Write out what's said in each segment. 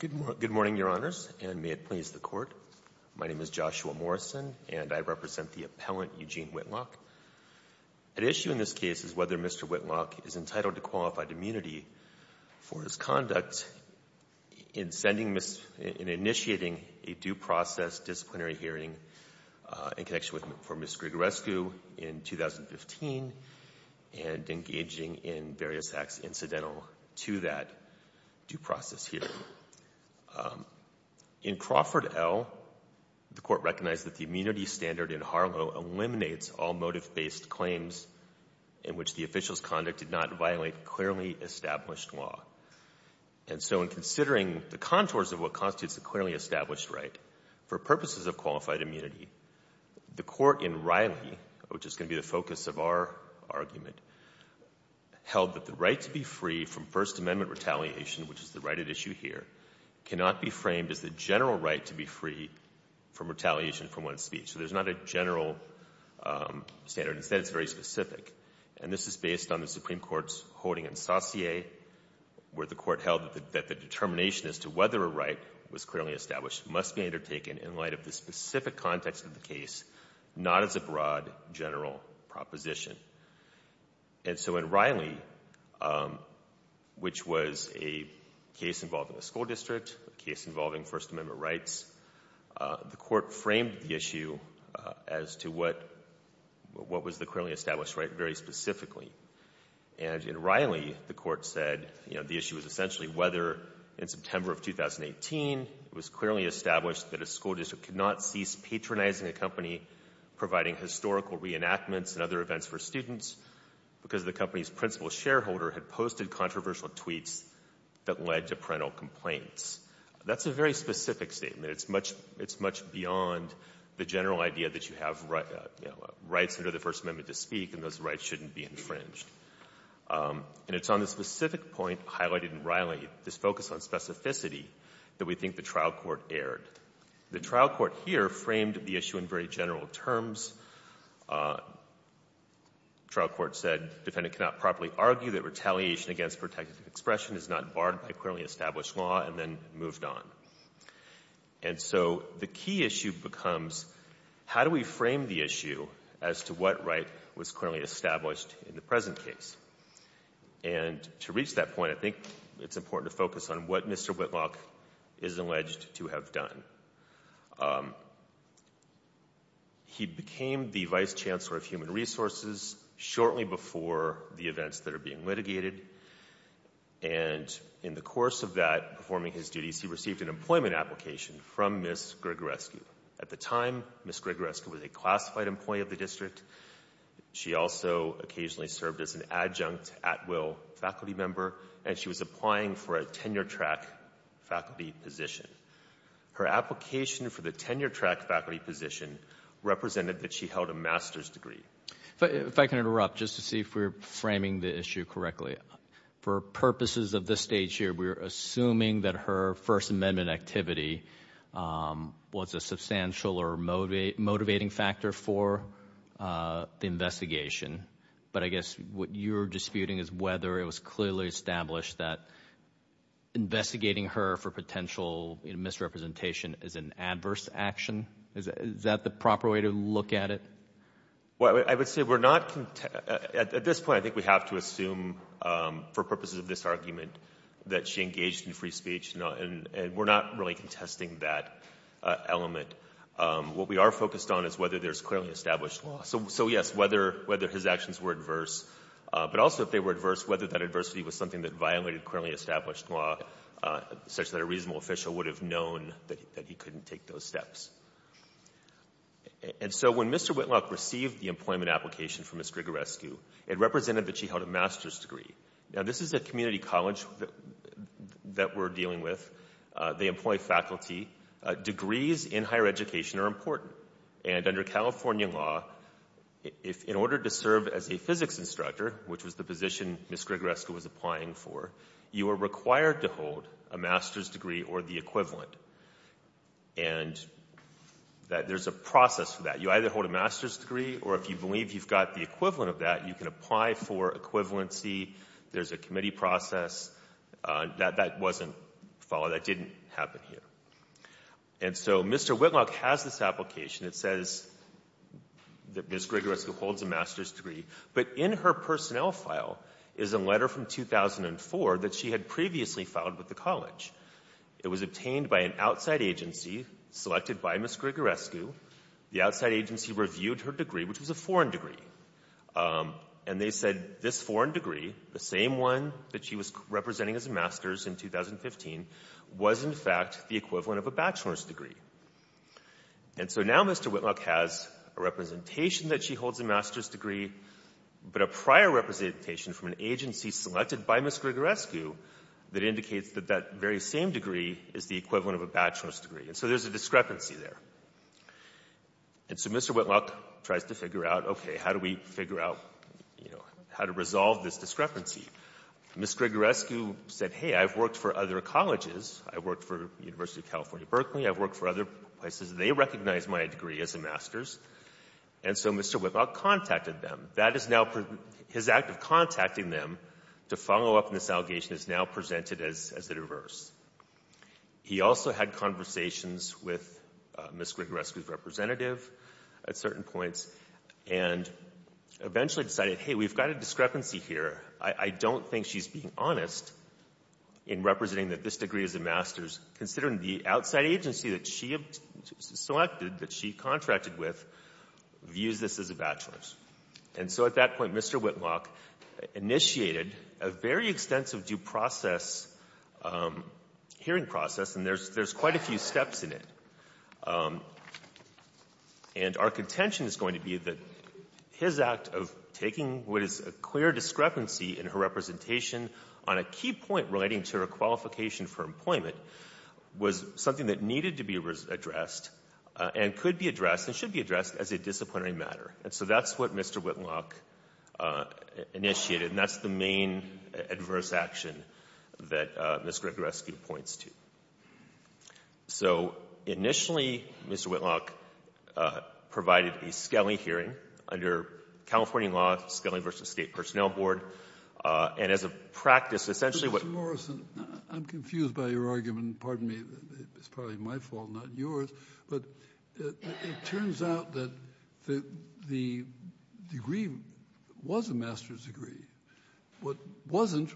Good morning, Your Honors, and may it please the Court. My name is Joshua Morrison, and I represent the appellant Eugene Whitlock. At issue in this case is whether Mr. Whitlock is entitled to qualified immunity for his conduct in initiating a due process disciplinary hearing in connection with Ms. Grigorescu in 2015 and engaging in various acts incidental to that due process hearing. In Crawford L., the Court recognized that the immunity standard in Harlow eliminates all motive-based claims in which the official's conduct did not violate clearly established law. And so in considering the contours of what constitutes a clearly established right for purposes of qualified immunity, the Court in Riley, which is going to be the focus of our argument, held that the right to be free from First Amendment retaliation, which is the right at issue here, cannot be framed as the general right to be free from retaliation for one's speech. So there's not a general standard. Instead, it's very specific. And this is based on the Supreme Court's holding in Saussure, where the Court held that the determination as to whether a right was clearly established must be undertaken in light of the specific context of the case, not as a broad general proposition. And so in Riley, which was a case involving a school district, a case involving First Amendment rights, the Court framed the issue as to what was the clearly established right very specifically. And in Riley, the Court said, you know, the issue was essentially whether in September of 2018, it was clearly established that a school district could not cease patronizing a company, providing historical reenactments and other events for students, because the company's principal shareholder had posted controversial tweets that led to parental complaints. That's a very specific statement. It's much, it's much beyond the general idea that you have rights under the First Amendment to speak, and those rights shouldn't be infringed. And it's on this specific point highlighted in Riley, this focus on specificity, that we think the trial court erred. The trial court here framed the issue in very general terms. Trial court said, defendant cannot properly argue that retaliation against protective expression is not barred by clearly established law, and then moved on. And so the key issue becomes, how do we frame the issue as to what right was clearly established in the present case? And to reach that point, I think it's important to focus on what Mr. Whitlock is alleged to have done. He became the Vice Chancellor of Human Resources shortly before the events that are being litigated, and in the course of that, performing his duties, he received an employment application from Ms. Grigorescu. At the time, Ms. Grigorescu was a classified employee of the district. She also occasionally served as an adjunct at-will faculty member, and she was applying for a tenure-track faculty position. Her application for the tenure-track faculty position represented that she held a master's degree. If I can interrupt, just to see if we're framing the issue correctly, for purposes of this stage here, we're assuming that her First Amendment activity was a substantial or motivating factor for the investigation, but I guess what you're disputing is whether it was clearly established that investigating her for potential misrepresentation is an adverse action. Is that the proper way to look at it? Well, I would say we're not, at this point, I think we have to assume, for purposes of this argument, that she engaged in free speech, and we're not really contesting that element. What we are focused on is whether there's clearly established law. So yes, whether his actions were adverse, but also if they were adverse, whether that adversity was something that violated clearly established law, such that a reasonable official would have known that he couldn't take those steps. And so when Mr. Whitlock received the employment application from Ms. Grigorescu, it represented that she held a master's degree. Now, this is a community college that we're dealing with. They employ faculty. Degrees in higher education are important, and under California law, in order to serve as a physics instructor, which was the position Ms. Grigorescu was applying for, you are required to hold a master's degree or the equivalent, and there's a process for that. You either hold a master's degree, or if you believe you've got the equivalent of that, you can apply for equivalency. There's a committee process. That wasn't followed. That didn't happen here. And so Mr. Whitlock has this application. It says that Ms. Grigorescu holds a master's degree, but in her personnel file is a letter from 2004 that she had previously filed with the college. It was obtained by an outside agency selected by Ms. Grigorescu. The outside agency reviewed her degree, which was a foreign degree, and they said this foreign degree, the same one that she was representing as a master's in 2015, was in fact the equivalent of a bachelor's degree. And so now Mr. Whitlock has a representation that she holds a master's degree, but a prior representation from an agency selected by Ms. Grigorescu that indicates that that very same degree is the equivalent of a bachelor's degree, and so there's a discrepancy there. And so Mr. Whitlock tries to figure out, okay, how do we figure out, you know, how to resolve this discrepancy? Ms. Grigorescu said, hey, I've worked for other colleges. I've worked for the University of California, Berkeley. I've worked for other places. They recognize my degree as a master's, and so Mr. Whitlock contacted them. That is now his act of contacting them to follow up on this allegation is now presented as the reverse. He also had conversations with Ms. Grigorescu's representative at certain points and eventually decided, hey, we've got a discrepancy here. I don't think she's being honest in representing that this degree is a master's, considering the outside agency that she selected, that she contracted with, views this as a bachelor's. And so at that point, Mr. Whitlock initiated a very extensive due process hearing process, and there's quite a few steps in it. And our contention is going to be that his act of taking what is a clear discrepancy in her representation on a key point relating to her qualification for employment was something that needed to be addressed and could be addressed and should be addressed as a disciplinary matter. And so that's what Mr. Whitlock initiated, and that's the main adverse action that Ms. Grigorescu points to. So initially, Mr. Whitlock provided a Scali hearing under California law, Scali v. State Personnel Board, and as a practice, essentially what- Mr. Morrison, I'm confused by your argument. Pardon me. It's probably my fault, not yours. But it turns out that the degree was a master's degree. What wasn't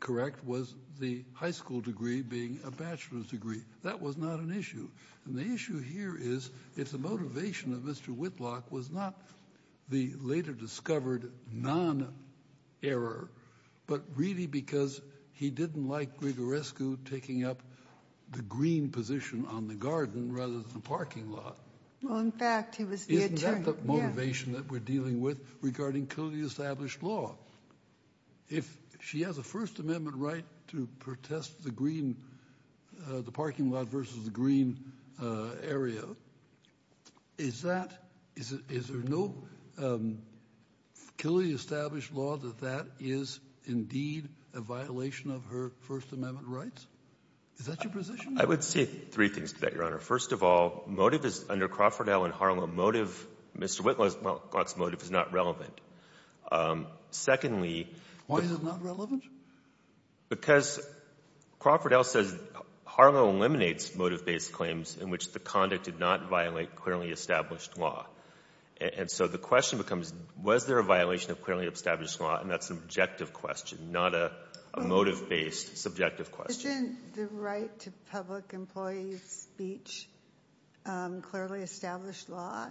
correct was the high school degree being a bachelor's degree. That was not an issue. And the issue here is if the motivation of Mr. Whitlock was not the later discovered non-error, but really because he didn't like Grigorescu taking up the green position on the garden rather than the parking lot- Well, in fact, he was the attorney. Isn't that the motivation that we're dealing with regarding Killey-established law? If she has a First Amendment right to protest the green, the parking lot versus the green area, is that, is there no Killey-established law that that is indeed a violation of her First Amendment rights? Is that your position? I would say three things to that, Your Honor. First of all, motive is under Crawford L. and Harlow. Motive, Mr. Whitlock's motive is not relevant. Secondly- Why is it not relevant? Because Crawford L. says Harlow eliminates motive-based claims in which the conduct did not violate clearly-established law. And so the question becomes, was there a violation of clearly-established law? And that's an objective question, not a motive-based subjective question. The right to public employee speech, clearly-established law,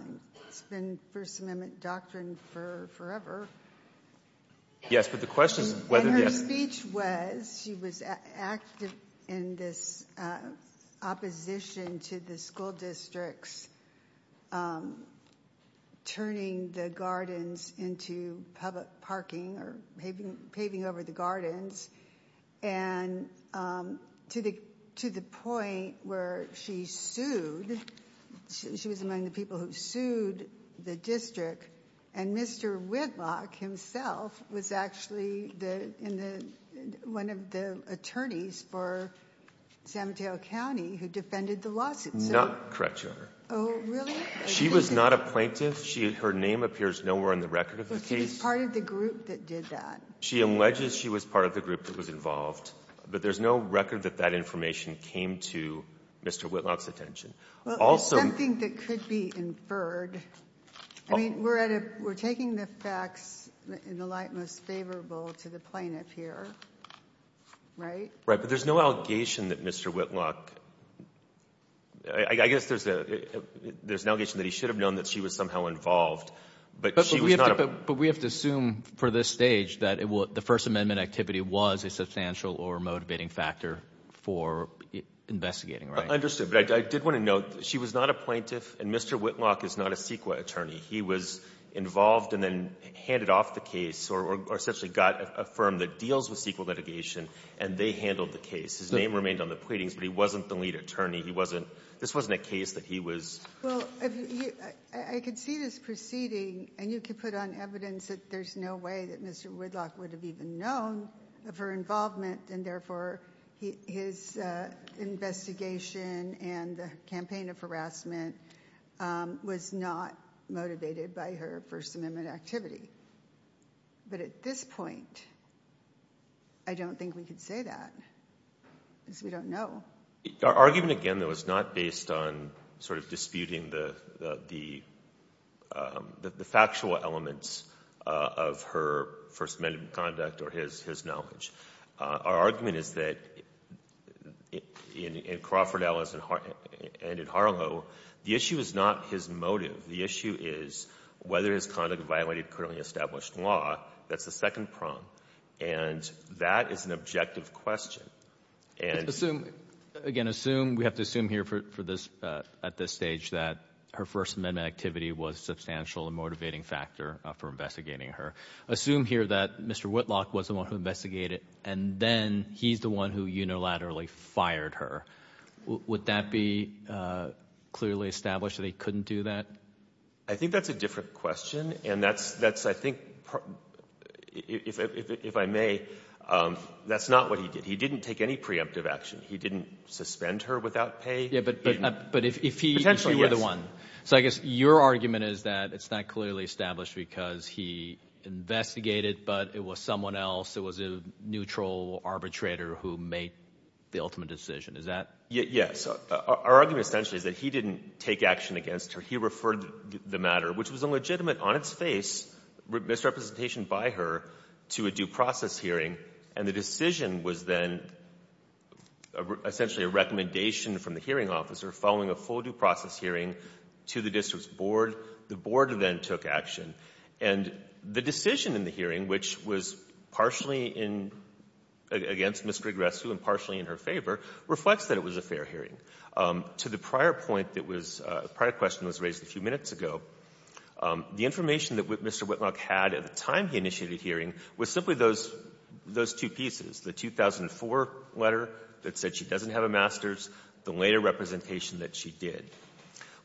it's been First Amendment doctrine for forever. Yes, but the question is- And her speech was, she was active in this opposition to the school districts turning the gardens into public parking or paving over the gardens. And to the point where she sued, she was among the people who sued the district. And Mr. Whitlock himself was actually one of the attorneys for San Mateo County who defended the lawsuit. Not correct, Your Honor. Oh, really? She was not a plaintiff. Her name appears nowhere on the record of the case. But she was part of the group that did that. She alleges she was part of the group that was involved, but there's no record that that information came to Mr. Whitlock's attention. Also- Something that could be inferred. I mean, we're at a we're taking the facts in the light most favorable to the plaintiff here, right? Right. But there's no allegation that Mr. Whitlock, I guess there's an allegation that he should have known that she was somehow involved, but she was not- But we have to assume for this stage that the First Amendment activity was a substantial or motivating factor for investigating, right? Understood. But I did want to note she was not a plaintiff, and Mr. Whitlock is not a CEQA attorney. He was involved and then handed off the case or essentially got a firm that deals with CEQA litigation, and they handled the case. His name remained on the pleadings, but he wasn't the lead attorney. He wasn't this wasn't a case that he was- Well, I could see this proceeding, and you could put on evidence that there's no way that Mr. Whitlock would have even known of her involvement, and therefore his investigation and the campaign of harassment was not motivated by her First Amendment activity. But at this point, I don't think we could say that because we don't know. Our argument, again, though, is not based on sort of disputing the factual elements of her First Amendment conduct or his knowledge. Our argument is that in Crawford, Ellis, and in Harlow, the issue is not his motive. The issue is whether his conduct violated currently established law. That's the second prong. And that is an objective question. And- Assume, again, assume, we have to assume here for this, at this stage, that her First Amendment activity was a substantial and motivating factor for investigating her. Assume here that Mr. Whitlock was the one who investigated, and then he's the one who unilaterally fired her. Would that be clearly established that he couldn't do that? I think that's a different question, and that's, I think, if I may, that's not what he did. He didn't take any preemptive action. He didn't suspend her without pay. Yeah, but if he- If she were the one. So I guess your argument is that it's not clearly established because he investigated, but it was someone else. It was a neutral arbitrator who made the ultimate decision. Is that- Yes. Our argument, essentially, is that he didn't take action against her. He referred the matter, which was illegitimate on its face, misrepresentation by her, to a due process hearing. And the decision was then essentially a recommendation from the hearing officer following a full due process hearing to the district's board. The board then took action. And the decision in the hearing, which was partially in- against Ms. Grigorescu and partially in her favor, reflects that it was a fair hearing. To the prior point that was- prior question was raised a few minutes ago, the information that Mr. Whitlock had at the time he initiated the hearing was simply those two pieces, the 2004 letter that said she doesn't have a master's, the later representation that she did.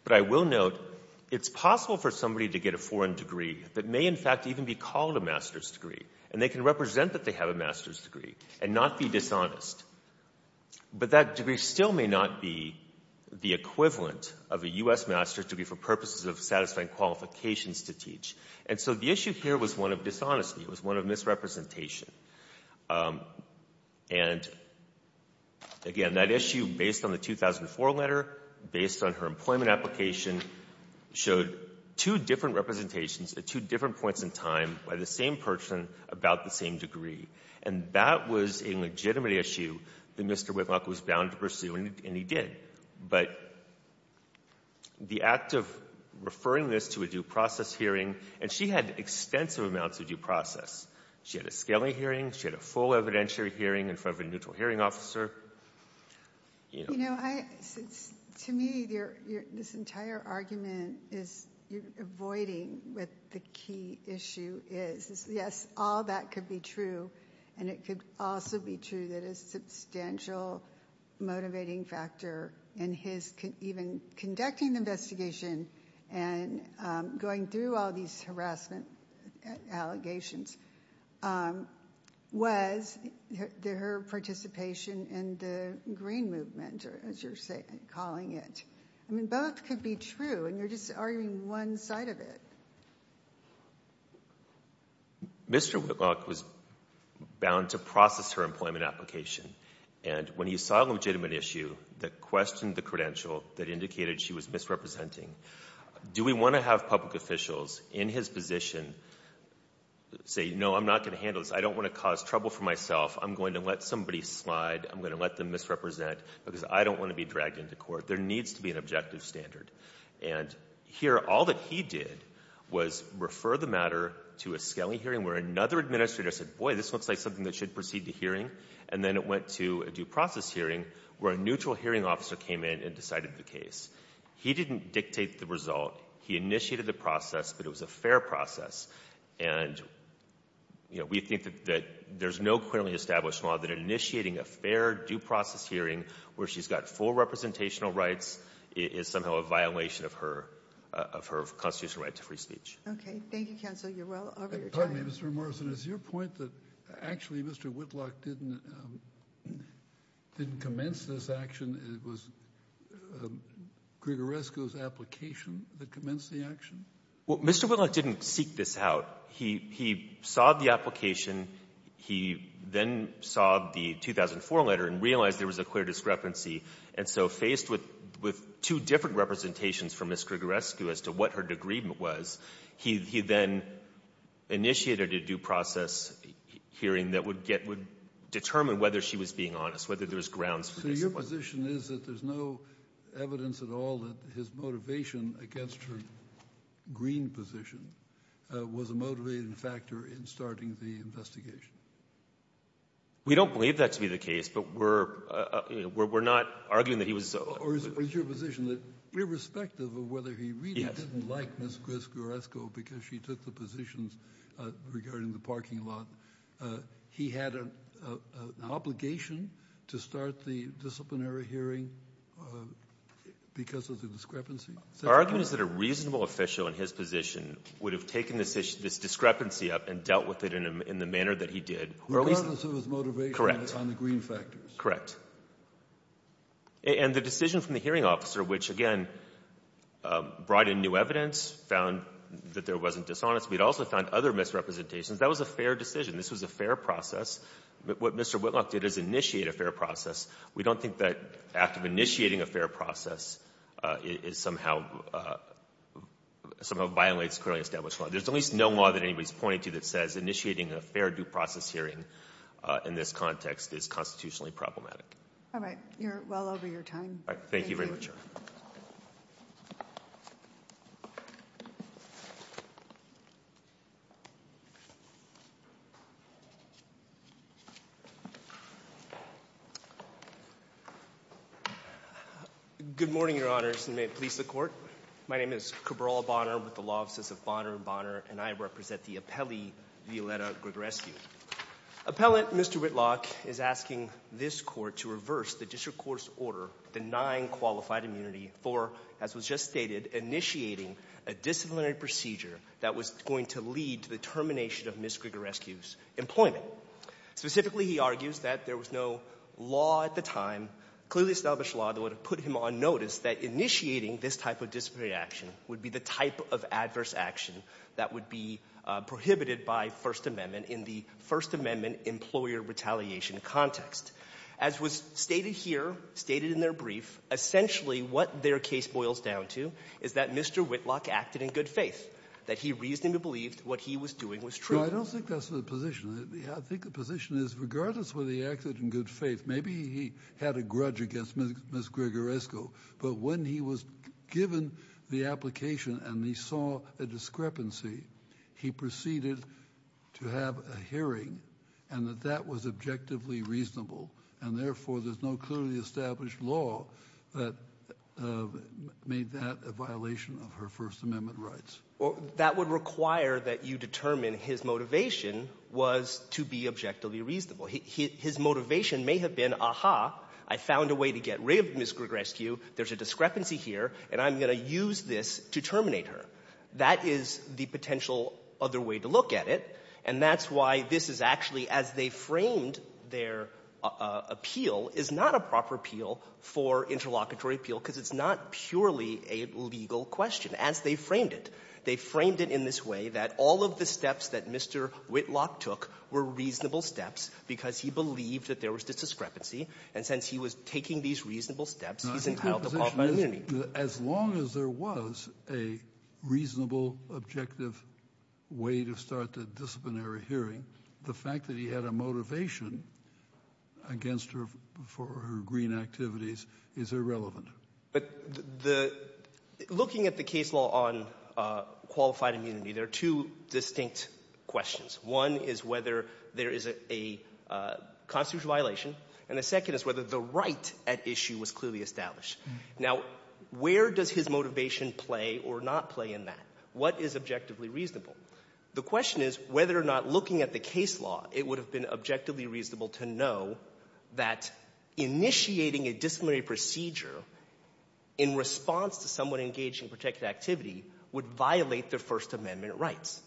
But I will note, it's possible for somebody to get a foreign degree that may, in fact, even be called a master's degree, and they can represent that they have a master's degree and not be dishonest. But that degree still may not be the equivalent of a U.S. master's degree for purposes of satisfying qualifications to teach. And so the issue here was one of dishonesty. It was one of misrepresentation. And, again, that issue, based on the 2004 letter, based on her employment application, showed two different representations at two different points in time by the same person about the same degree. And that was a legitimate issue that Mr. Whitlock was bound to pursue, and he did. But the act of referring this to a due process hearing, and she had extensive amounts of due process. She had a scaling hearing. She had a full evidentiary hearing in front of a neutral hearing officer. You know, to me, this entire argument is you're avoiding what the key issue is. Yes, all that could be true, and it could also be true that a substantial motivating factor in his even conducting the investigation and going through all these harassment allegations was her participation in the Green Movement, as you're calling it. I mean, both could be true, and you're just arguing one side of it. Mr. Whitlock was bound to process her employment application, and when he saw a legitimate issue that questioned the credential that indicated she was misrepresenting, do we want to have public officials in his position say, no, I'm not going to handle this. I don't want to cause trouble for myself. I'm going to let somebody slide. I'm going to let them misrepresent because I don't want to be dragged into court. There needs to be an objective standard. And here, all that he did was refer the matter to a scaling hearing where another administrator said, boy, this looks like something that should proceed to hearing, and then it went to a due process hearing where a neutral hearing officer came in and decided the case. He didn't dictate the result. He initiated the process, but it was a fair process. And, you know, we think that there's no currently established law that initiating a fair due process hearing where she's got full representational rights is somehow a violation of her constitutional right to free speech. Okay. Thank you, counsel. You're well over your time. Mr. Morrison, is your point that actually Mr. Whitlock didn't commence this action? It was Grigorescu's application that commenced the action? Well, Mr. Whitlock didn't seek this out. He saw the application. He then saw the 2004 letter and realized there was a clear discrepancy. And so faced with two different representations from Ms. Grigorescu as to what her agreement was, he then initiated a due process hearing that would get — would determine whether she was being honest, whether there was grounds for this. So your position is that there's no evidence at all that his motivation against her green position was a motivating factor in starting the investigation? We don't believe that to be the case, but we're not arguing that he was — Or is your position that irrespective of whether he really didn't like Ms. Grigorescu because she took the positions regarding the parking lot, he had an obligation to start the disciplinary hearing because of the discrepancy? Our argument is that a reasonable official in his position would have taken this discrepancy up and dealt with it in the manner that he did. Regardless of his motivation on the green factors. Correct. And the decision from the hearing officer, which, again, brought in new evidence, found that there wasn't dishonest. We'd also found other misrepresentations. That was a fair decision. This was a fair process. What Mr. Whitlock did is initiate a fair process. We don't think that act of initiating a fair process is somehow — somehow violates clearly established law. There's at least no law that anybody's pointing to that says initiating a fair due process hearing in this context is constitutionally problematic. All right. You're well over your time. All right. Thank you very much, Your Honor. Good morning, Your Honors, and may it please the Court. My name is Cabral Bonner with the law offices of Bonner & Bonner, and I represent the appellee, Violetta Grigorescu. Appellant Mr. Whitlock is asking this Court to reverse the district court's order denying qualified immunity for, as was just stated, initiating a disciplinary procedure that was going to lead to the termination of Ms. Grigorescu's employment. Specifically, he argues that there was no law at the time, clearly established law, that would have put him on notice that initiating this type of disciplinary action would be the type of adverse action that would be prohibited by First Amendment in the First Amendment employer retaliation context. As was stated here, stated in their brief, essentially what their case boils down to is that Mr. Whitlock acted in good faith, that he reasonably believed what he was doing was true. I don't think that's the position. I think the position is regardless whether he acted in good faith, maybe he had a grudge against Ms. Grigorescu, but when he was given the application and he saw a discrepancy, he proceeded to have a hearing and that that was objectively reasonable, and therefore there's no clearly established law that made that a violation of her First Amendment rights. Well, that would require that you determine his motivation was to be objectively reasonable. His motivation may have been, aha, I found a way to get rid of Ms. Grigorescu, there's a discrepancy here, and I'm going to use this to terminate her. That is the potential other way to look at it, and that's why this is actually, as they framed their appeal, is not a proper appeal for interlocutory appeal because it's not purely a legal question, as they framed it. They framed it in this way that all of the steps that Mr. Whitlock took were reasonable steps because he believed that there was a discrepancy, and since he was taking these reasonable steps, he's entitled to qualified immunity. As long as there was a reasonable, objective way to start the disciplinary hearing, the fact that he had a motivation against her for her green activities is irrelevant. But the — looking at the case law on qualified immunity, there are two distinct questions. One is whether there is a constitutional violation, and the second is whether the right at issue was clearly established. Now, where does his motivation play or not play in that? What is objectively reasonable? The question is whether or not, looking at the case law, it would have been objectively reasonable to know that initiating a disciplinary procedure in response to someone engaged in protected activity would violate their First Amendment rights.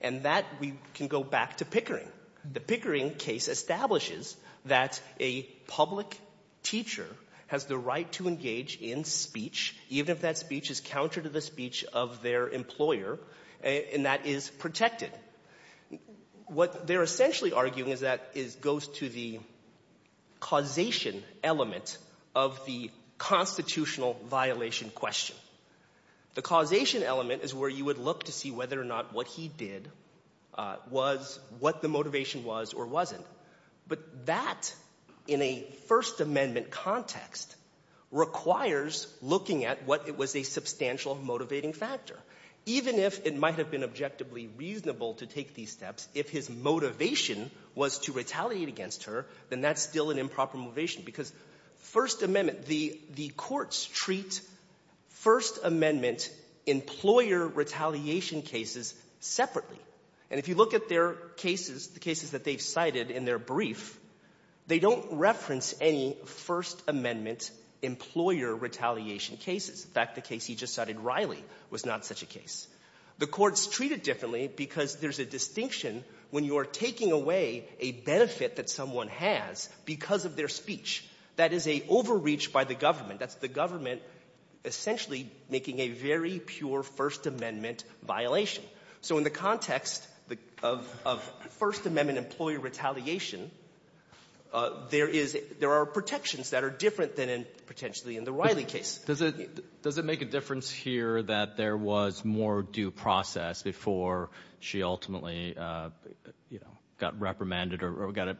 And that, we can go back to Pickering. The Pickering case establishes that a public teacher has the right to engage in speech, even if that speech is counter to the speech of their employer, and that is protected. What they're essentially arguing is that it goes to the causation element of the constitutional violation question. The causation element is where you would look to see whether or not what he did was what the motivation was or wasn't. But that, in a First Amendment context, requires looking at what was a substantial motivating factor. Even if it might have been objectively reasonable to take these steps, if his motivation was to retaliate against her, then that's still an improper motivation. Because First Amendment, the courts treat First Amendment employer retaliation cases separately. And if you look at their cases, the cases that they've cited in their brief, they don't reference any First Amendment employer retaliation cases. In fact, the case he just cited, Riley, was not such a case. The courts treat it differently because there's a distinction when you are taking away a benefit that someone has because of their speech. That is an overreach by the government. That's the government essentially making a very pure First Amendment violation. So in the context of First Amendment employer retaliation, there is — there are protections that are different than potentially in the Riley case. Does it — does it make a difference here that there was more due process before she ultimately, you know, got reprimanded or got an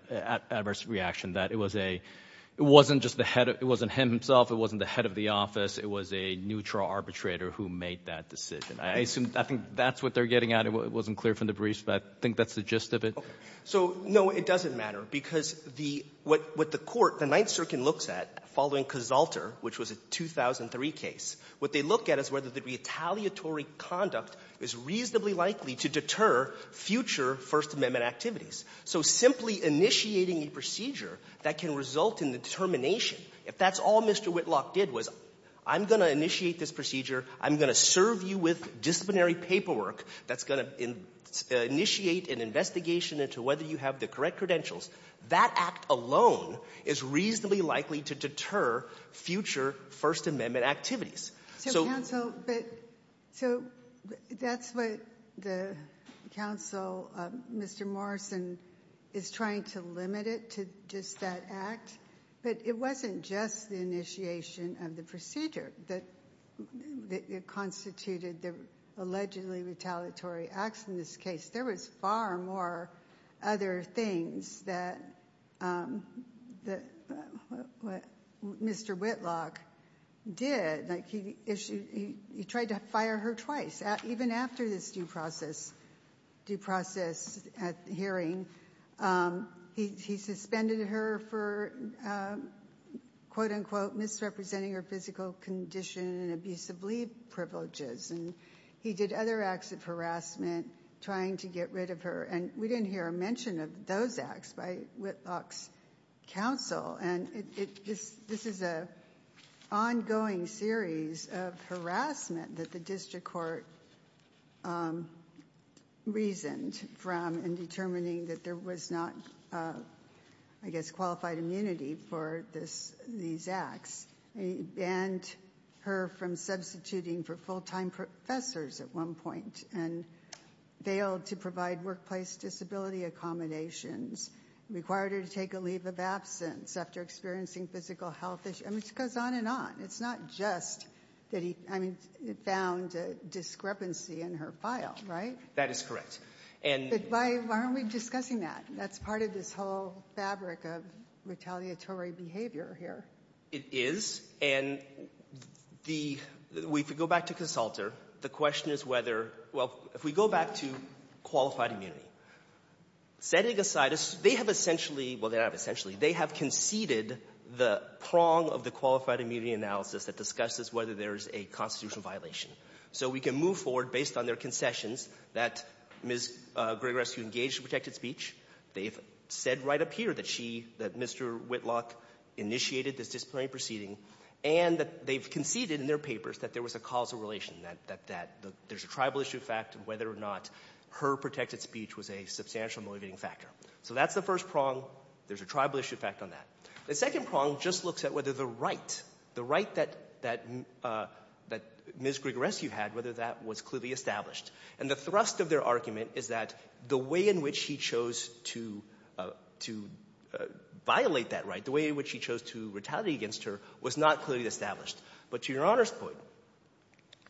adverse reaction, that it was a — it wasn't just the head — it wasn't him himself, it wasn't the head of the office, it was a neutral arbitrator who made that decision? I assume — I think that's what they're getting at. It wasn't clear from the briefs, but I think that's the gist of it. So, no, it doesn't matter, because the — what the court, the Ninth Circuit, looks at following Casalter, which was a 2003 case, what they look at is whether the retaliatory conduct is reasonably likely to deter future First Amendment activities. So simply initiating a procedure that can result in the determination, if that's all Mr. Whitlock did was, I'm going to initiate this procedure, I'm going to serve you with disciplinary paperwork that's going to initiate an investigation into whether you have the correct credentials, that act alone is reasonably likely to deter future First Amendment activities. So, counsel, but — so that's what the counsel, Mr. Morrison, is trying to limit it to just that act, but it wasn't just the initiation of the procedure that constituted the allegedly retaliatory acts in this case. There was far more other things that Mr. Whitlock did. Like, he issued — he tried to fire her twice. Even after this due process hearing, he suspended her for, quote-unquote, misrepresenting her physical condition and abusive leave privileges, and he did other acts of harassment, trying to get rid of her. And we didn't hear a mention of those acts by Whitlock's counsel. And it — this is an ongoing series of harassment that the district court reasoned from in determining that there was not, I guess, qualified immunity for this — these acts. He banned her from substituting for full-time professors at one point, and failed to provide workplace disability accommodations, required her to take a leave of absence after experiencing physical health issues. I mean, it goes on and on. It's not just that he — I mean, found discrepancy in her file, right? That is correct. But why aren't we discussing that? That's part of this whole fabric of retaliatory behavior here. It is. And the — if we go back to Consulter, the question is whether — well, if we go back to qualified immunity, setting aside a — they have essentially — well, they don't have essentially. They have conceded the prong of the qualified immunity analysis that discusses whether there is a constitutional violation. So we can move forward, based on their concessions, that Ms. Grigorescu engaged in protected speech. They've said right up here that she — that Mr. Whitlock initiated this disciplinary proceeding, and that they've conceded in their papers that there was a causal relation, that there's a tribal issue fact of whether or not her protected speech was a substantial motivating factor. So that's the first prong. There's a tribal issue fact on that. The second prong just looks at whether the right — the right that Ms. Grigorescu had, whether that was clearly established. And the thrust of their argument is that the way in which she chose to — to violate that right, the way in which she chose to retaliate against her, was not clearly established. But to Your Honor's point,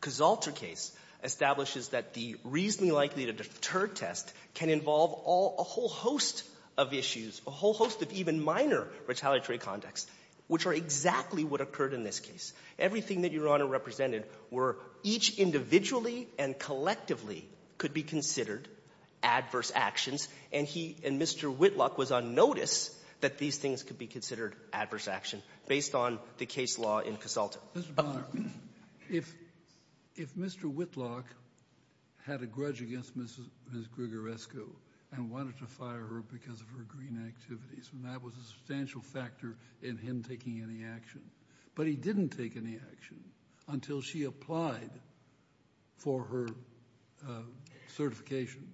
Consulter case establishes that the reasonably likely to deter test can involve all — a whole host of issues, a whole host of even minor retaliatory contexts, which are exactly what occurred in this case. Everything that Your Honor represented were each individually and collectively could be considered adverse actions. And he — and Mr. Whitlock was on notice that these things could be considered adverse action based on the case law in Consulter. Mr. Bonner, if — if Mr. Whitlock had a grudge against Ms. — Ms. Grigorescu and wanted to fire her because of her green activities, and that was a substantial factor in him taking any action, but he didn't take any action until she applied for her certification.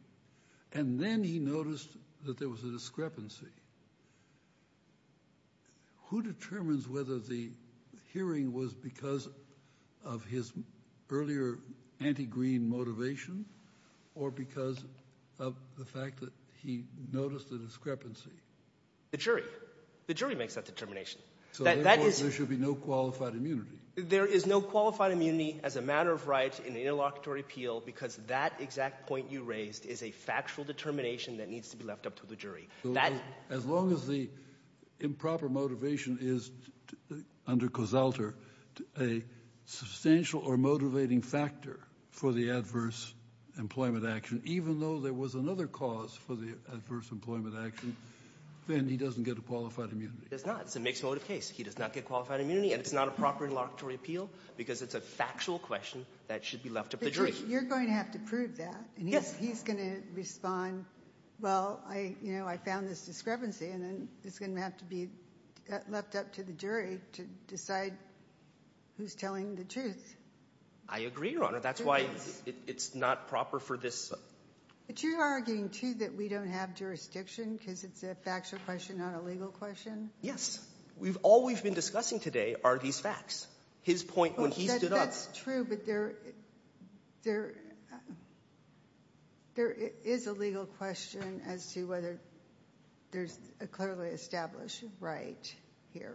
And then he noticed that there was a discrepancy. Who determines whether the hearing was because of his earlier anti-green motivation or because of the fact that he noticed a discrepancy? The jury. The jury makes that determination. So therefore, there should be no qualified immunity. There is no qualified immunity as a matter of right in the interlocutory appeal because that exact point you raised is a factual determination that needs to be left up to the jury. That — As long as the improper motivation is, under Consulter, a substantial or motivating factor for the adverse employment action, even though there was another cause for the adverse employment action, then he doesn't get a qualified immunity. He does not. It's a mixed-motive case. He does not get qualified immunity, and it's not a proper interlocutory appeal because it's a factual question that should be left up to the jury. But you're going to have to prove that. And he's going to respond, well, I — you know, I found this discrepancy, and then it's going to have to be left up to the jury to decide who's telling the truth. I agree, Your Honor. That's why it's not proper for this. But you're arguing, too, that we don't have jurisdiction because it's a factual question, not a legal question? Yes. All we've been discussing today are these facts. His point, when he stood up — That's true, but there — there is a legal question as to whether there's a clearly established right here.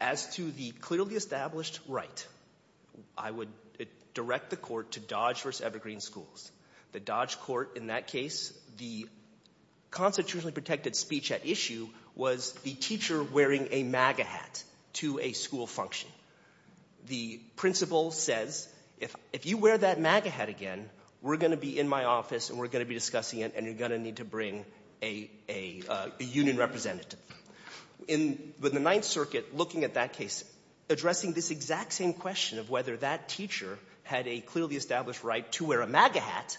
As to the clearly established right, I would direct the Court to Dodge v. Evergreen Schools. The Dodge court in that case, the constitutionally protected speech at issue was the teacher wearing a MAGA hat to a school function. The principal says, if you wear that MAGA hat again, we're going to be in my office and we're going to be discussing it, and you're going to need to bring a union representative. In — with the Ninth Circuit looking at that case, addressing this exact same question of whether that teacher had a clearly established right to wear a MAGA hat,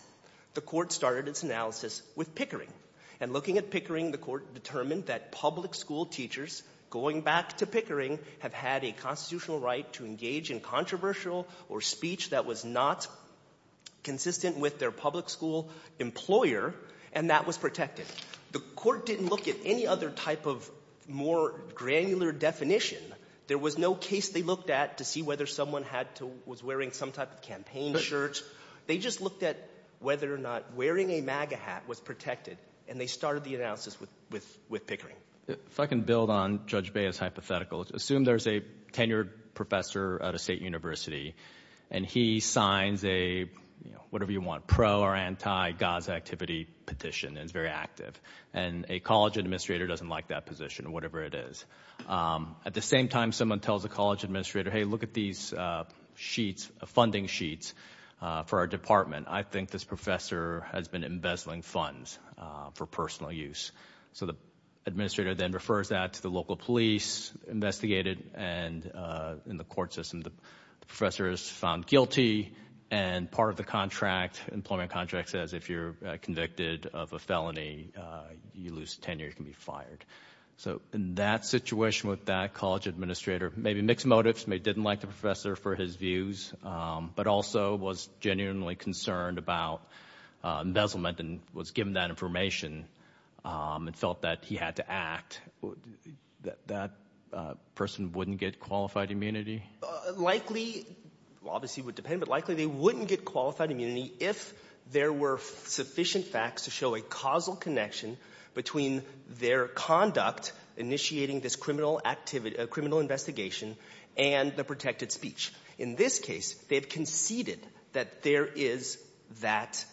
the court started its analysis with Pickering. And looking at Pickering, the court determined that public school teachers, going back to Pickering, have had a constitutional right to engage in controversial or speech that was not consistent with their public school employer, and that was protected. The court didn't look at any other type of more granular definition. There was no case they looked at to see whether someone had to — was wearing some type of campaign shirt. They just looked at whether or not wearing a MAGA hat was protected, and they started the analysis with — with Pickering. If I can build on Judge Baez's hypothetical. Assume there's a tenured professor at a state university, and he signs a, you know, whatever you want, pro- or anti-Gaza activity petition, and it's very active. And a college administrator doesn't like that position, whatever it is. At the same time, someone tells the college administrator, hey, look at these sheets, funding sheets for our department. I think this professor has been embezzling funds for personal use. So the administrator then refers that to the local police, investigated, and in the court system the professor is found guilty, and part of the contract, employment contract, says if you're convicted of a felony, you lose tenure, you can be fired. So in that situation with that college administrator, maybe mixed motives, maybe didn't like the professor for his views, but also was genuinely concerned about embezzlement and was given that information and felt that he had to act, that person wouldn't get qualified immunity? Likely — well, obviously it would depend, but likely they wouldn't get qualified immunity if there were sufficient facts to show a causal connection between their conduct initiating this criminal activity — criminal investigation and the protected speech. In this case, they've conceded that there is that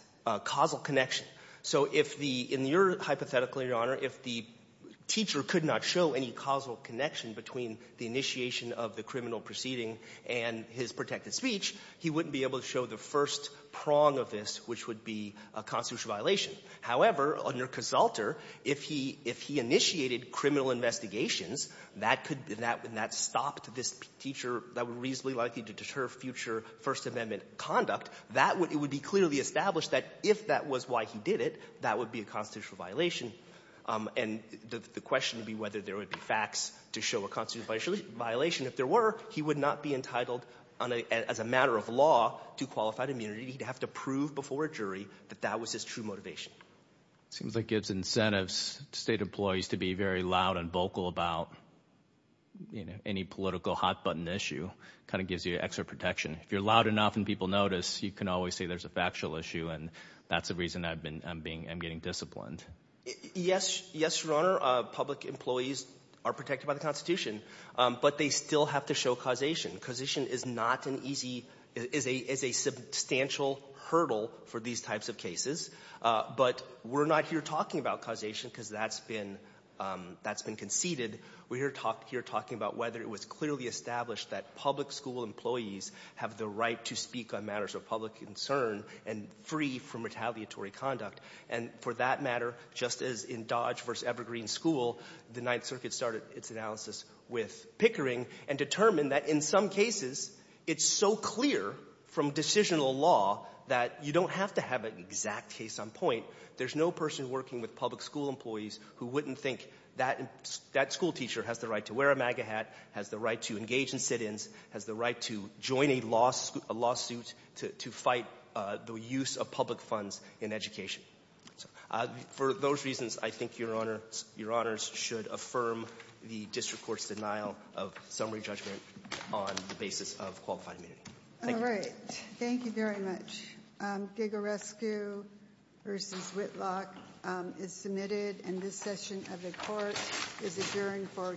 causal connection. So if the — in your hypothetical, Your Honor, if the teacher could not show any causal connection between the initiation of the criminal proceeding and his protected which would be a constitutional violation. However, under Casalter, if he — if he initiated criminal investigations, that could — and that stopped this teacher that was reasonably likely to deter future First Amendment conduct, that would — it would be clearly established that if that was why he did it, that would be a constitutional violation. And the question would be whether there would be facts to show a constitutional violation. If there were, he would not be entitled, as a matter of law, to qualified immunity. He'd have to prove before a jury that that was his true motivation. It seems like it gives incentives to state employees to be very loud and vocal about, you know, any political hot-button issue, kind of gives you extra protection. If you're loud enough and people notice, you can always say there's a factual issue and that's the reason I've been — I'm being — I'm getting disciplined. Yes. Yes, Your Honor. Public employees are protected by the Constitution, but they still have to show causation. Causation is not an easy — is a — is a substantial hurdle for these types of cases. But we're not here talking about causation because that's been — that's been conceded. We're here talking about whether it was clearly established that public school employees have the right to speak on matters of public concern and free from retaliatory conduct. And for that matter, just as in Dodge v. Evergreen School, the Ninth Circuit started its analysis with Pickering and determined that in some cases, it's so clear from decisional law that you don't have to have an exact case on point. There's no person working with public school employees who wouldn't think that school teacher has the right to wear a MAGA hat, has the right to engage in sit-ins, has the right to join a lawsuit to fight the use of public funds in education. So for those reasons, I think Your Honors should affirm the district court's denial of summary judgment on the basis of qualified immunity. Thank you. All right. Thank you very much. Gaga Rescue v. Whitlock is submitted, and this session of the court is adjourned for today.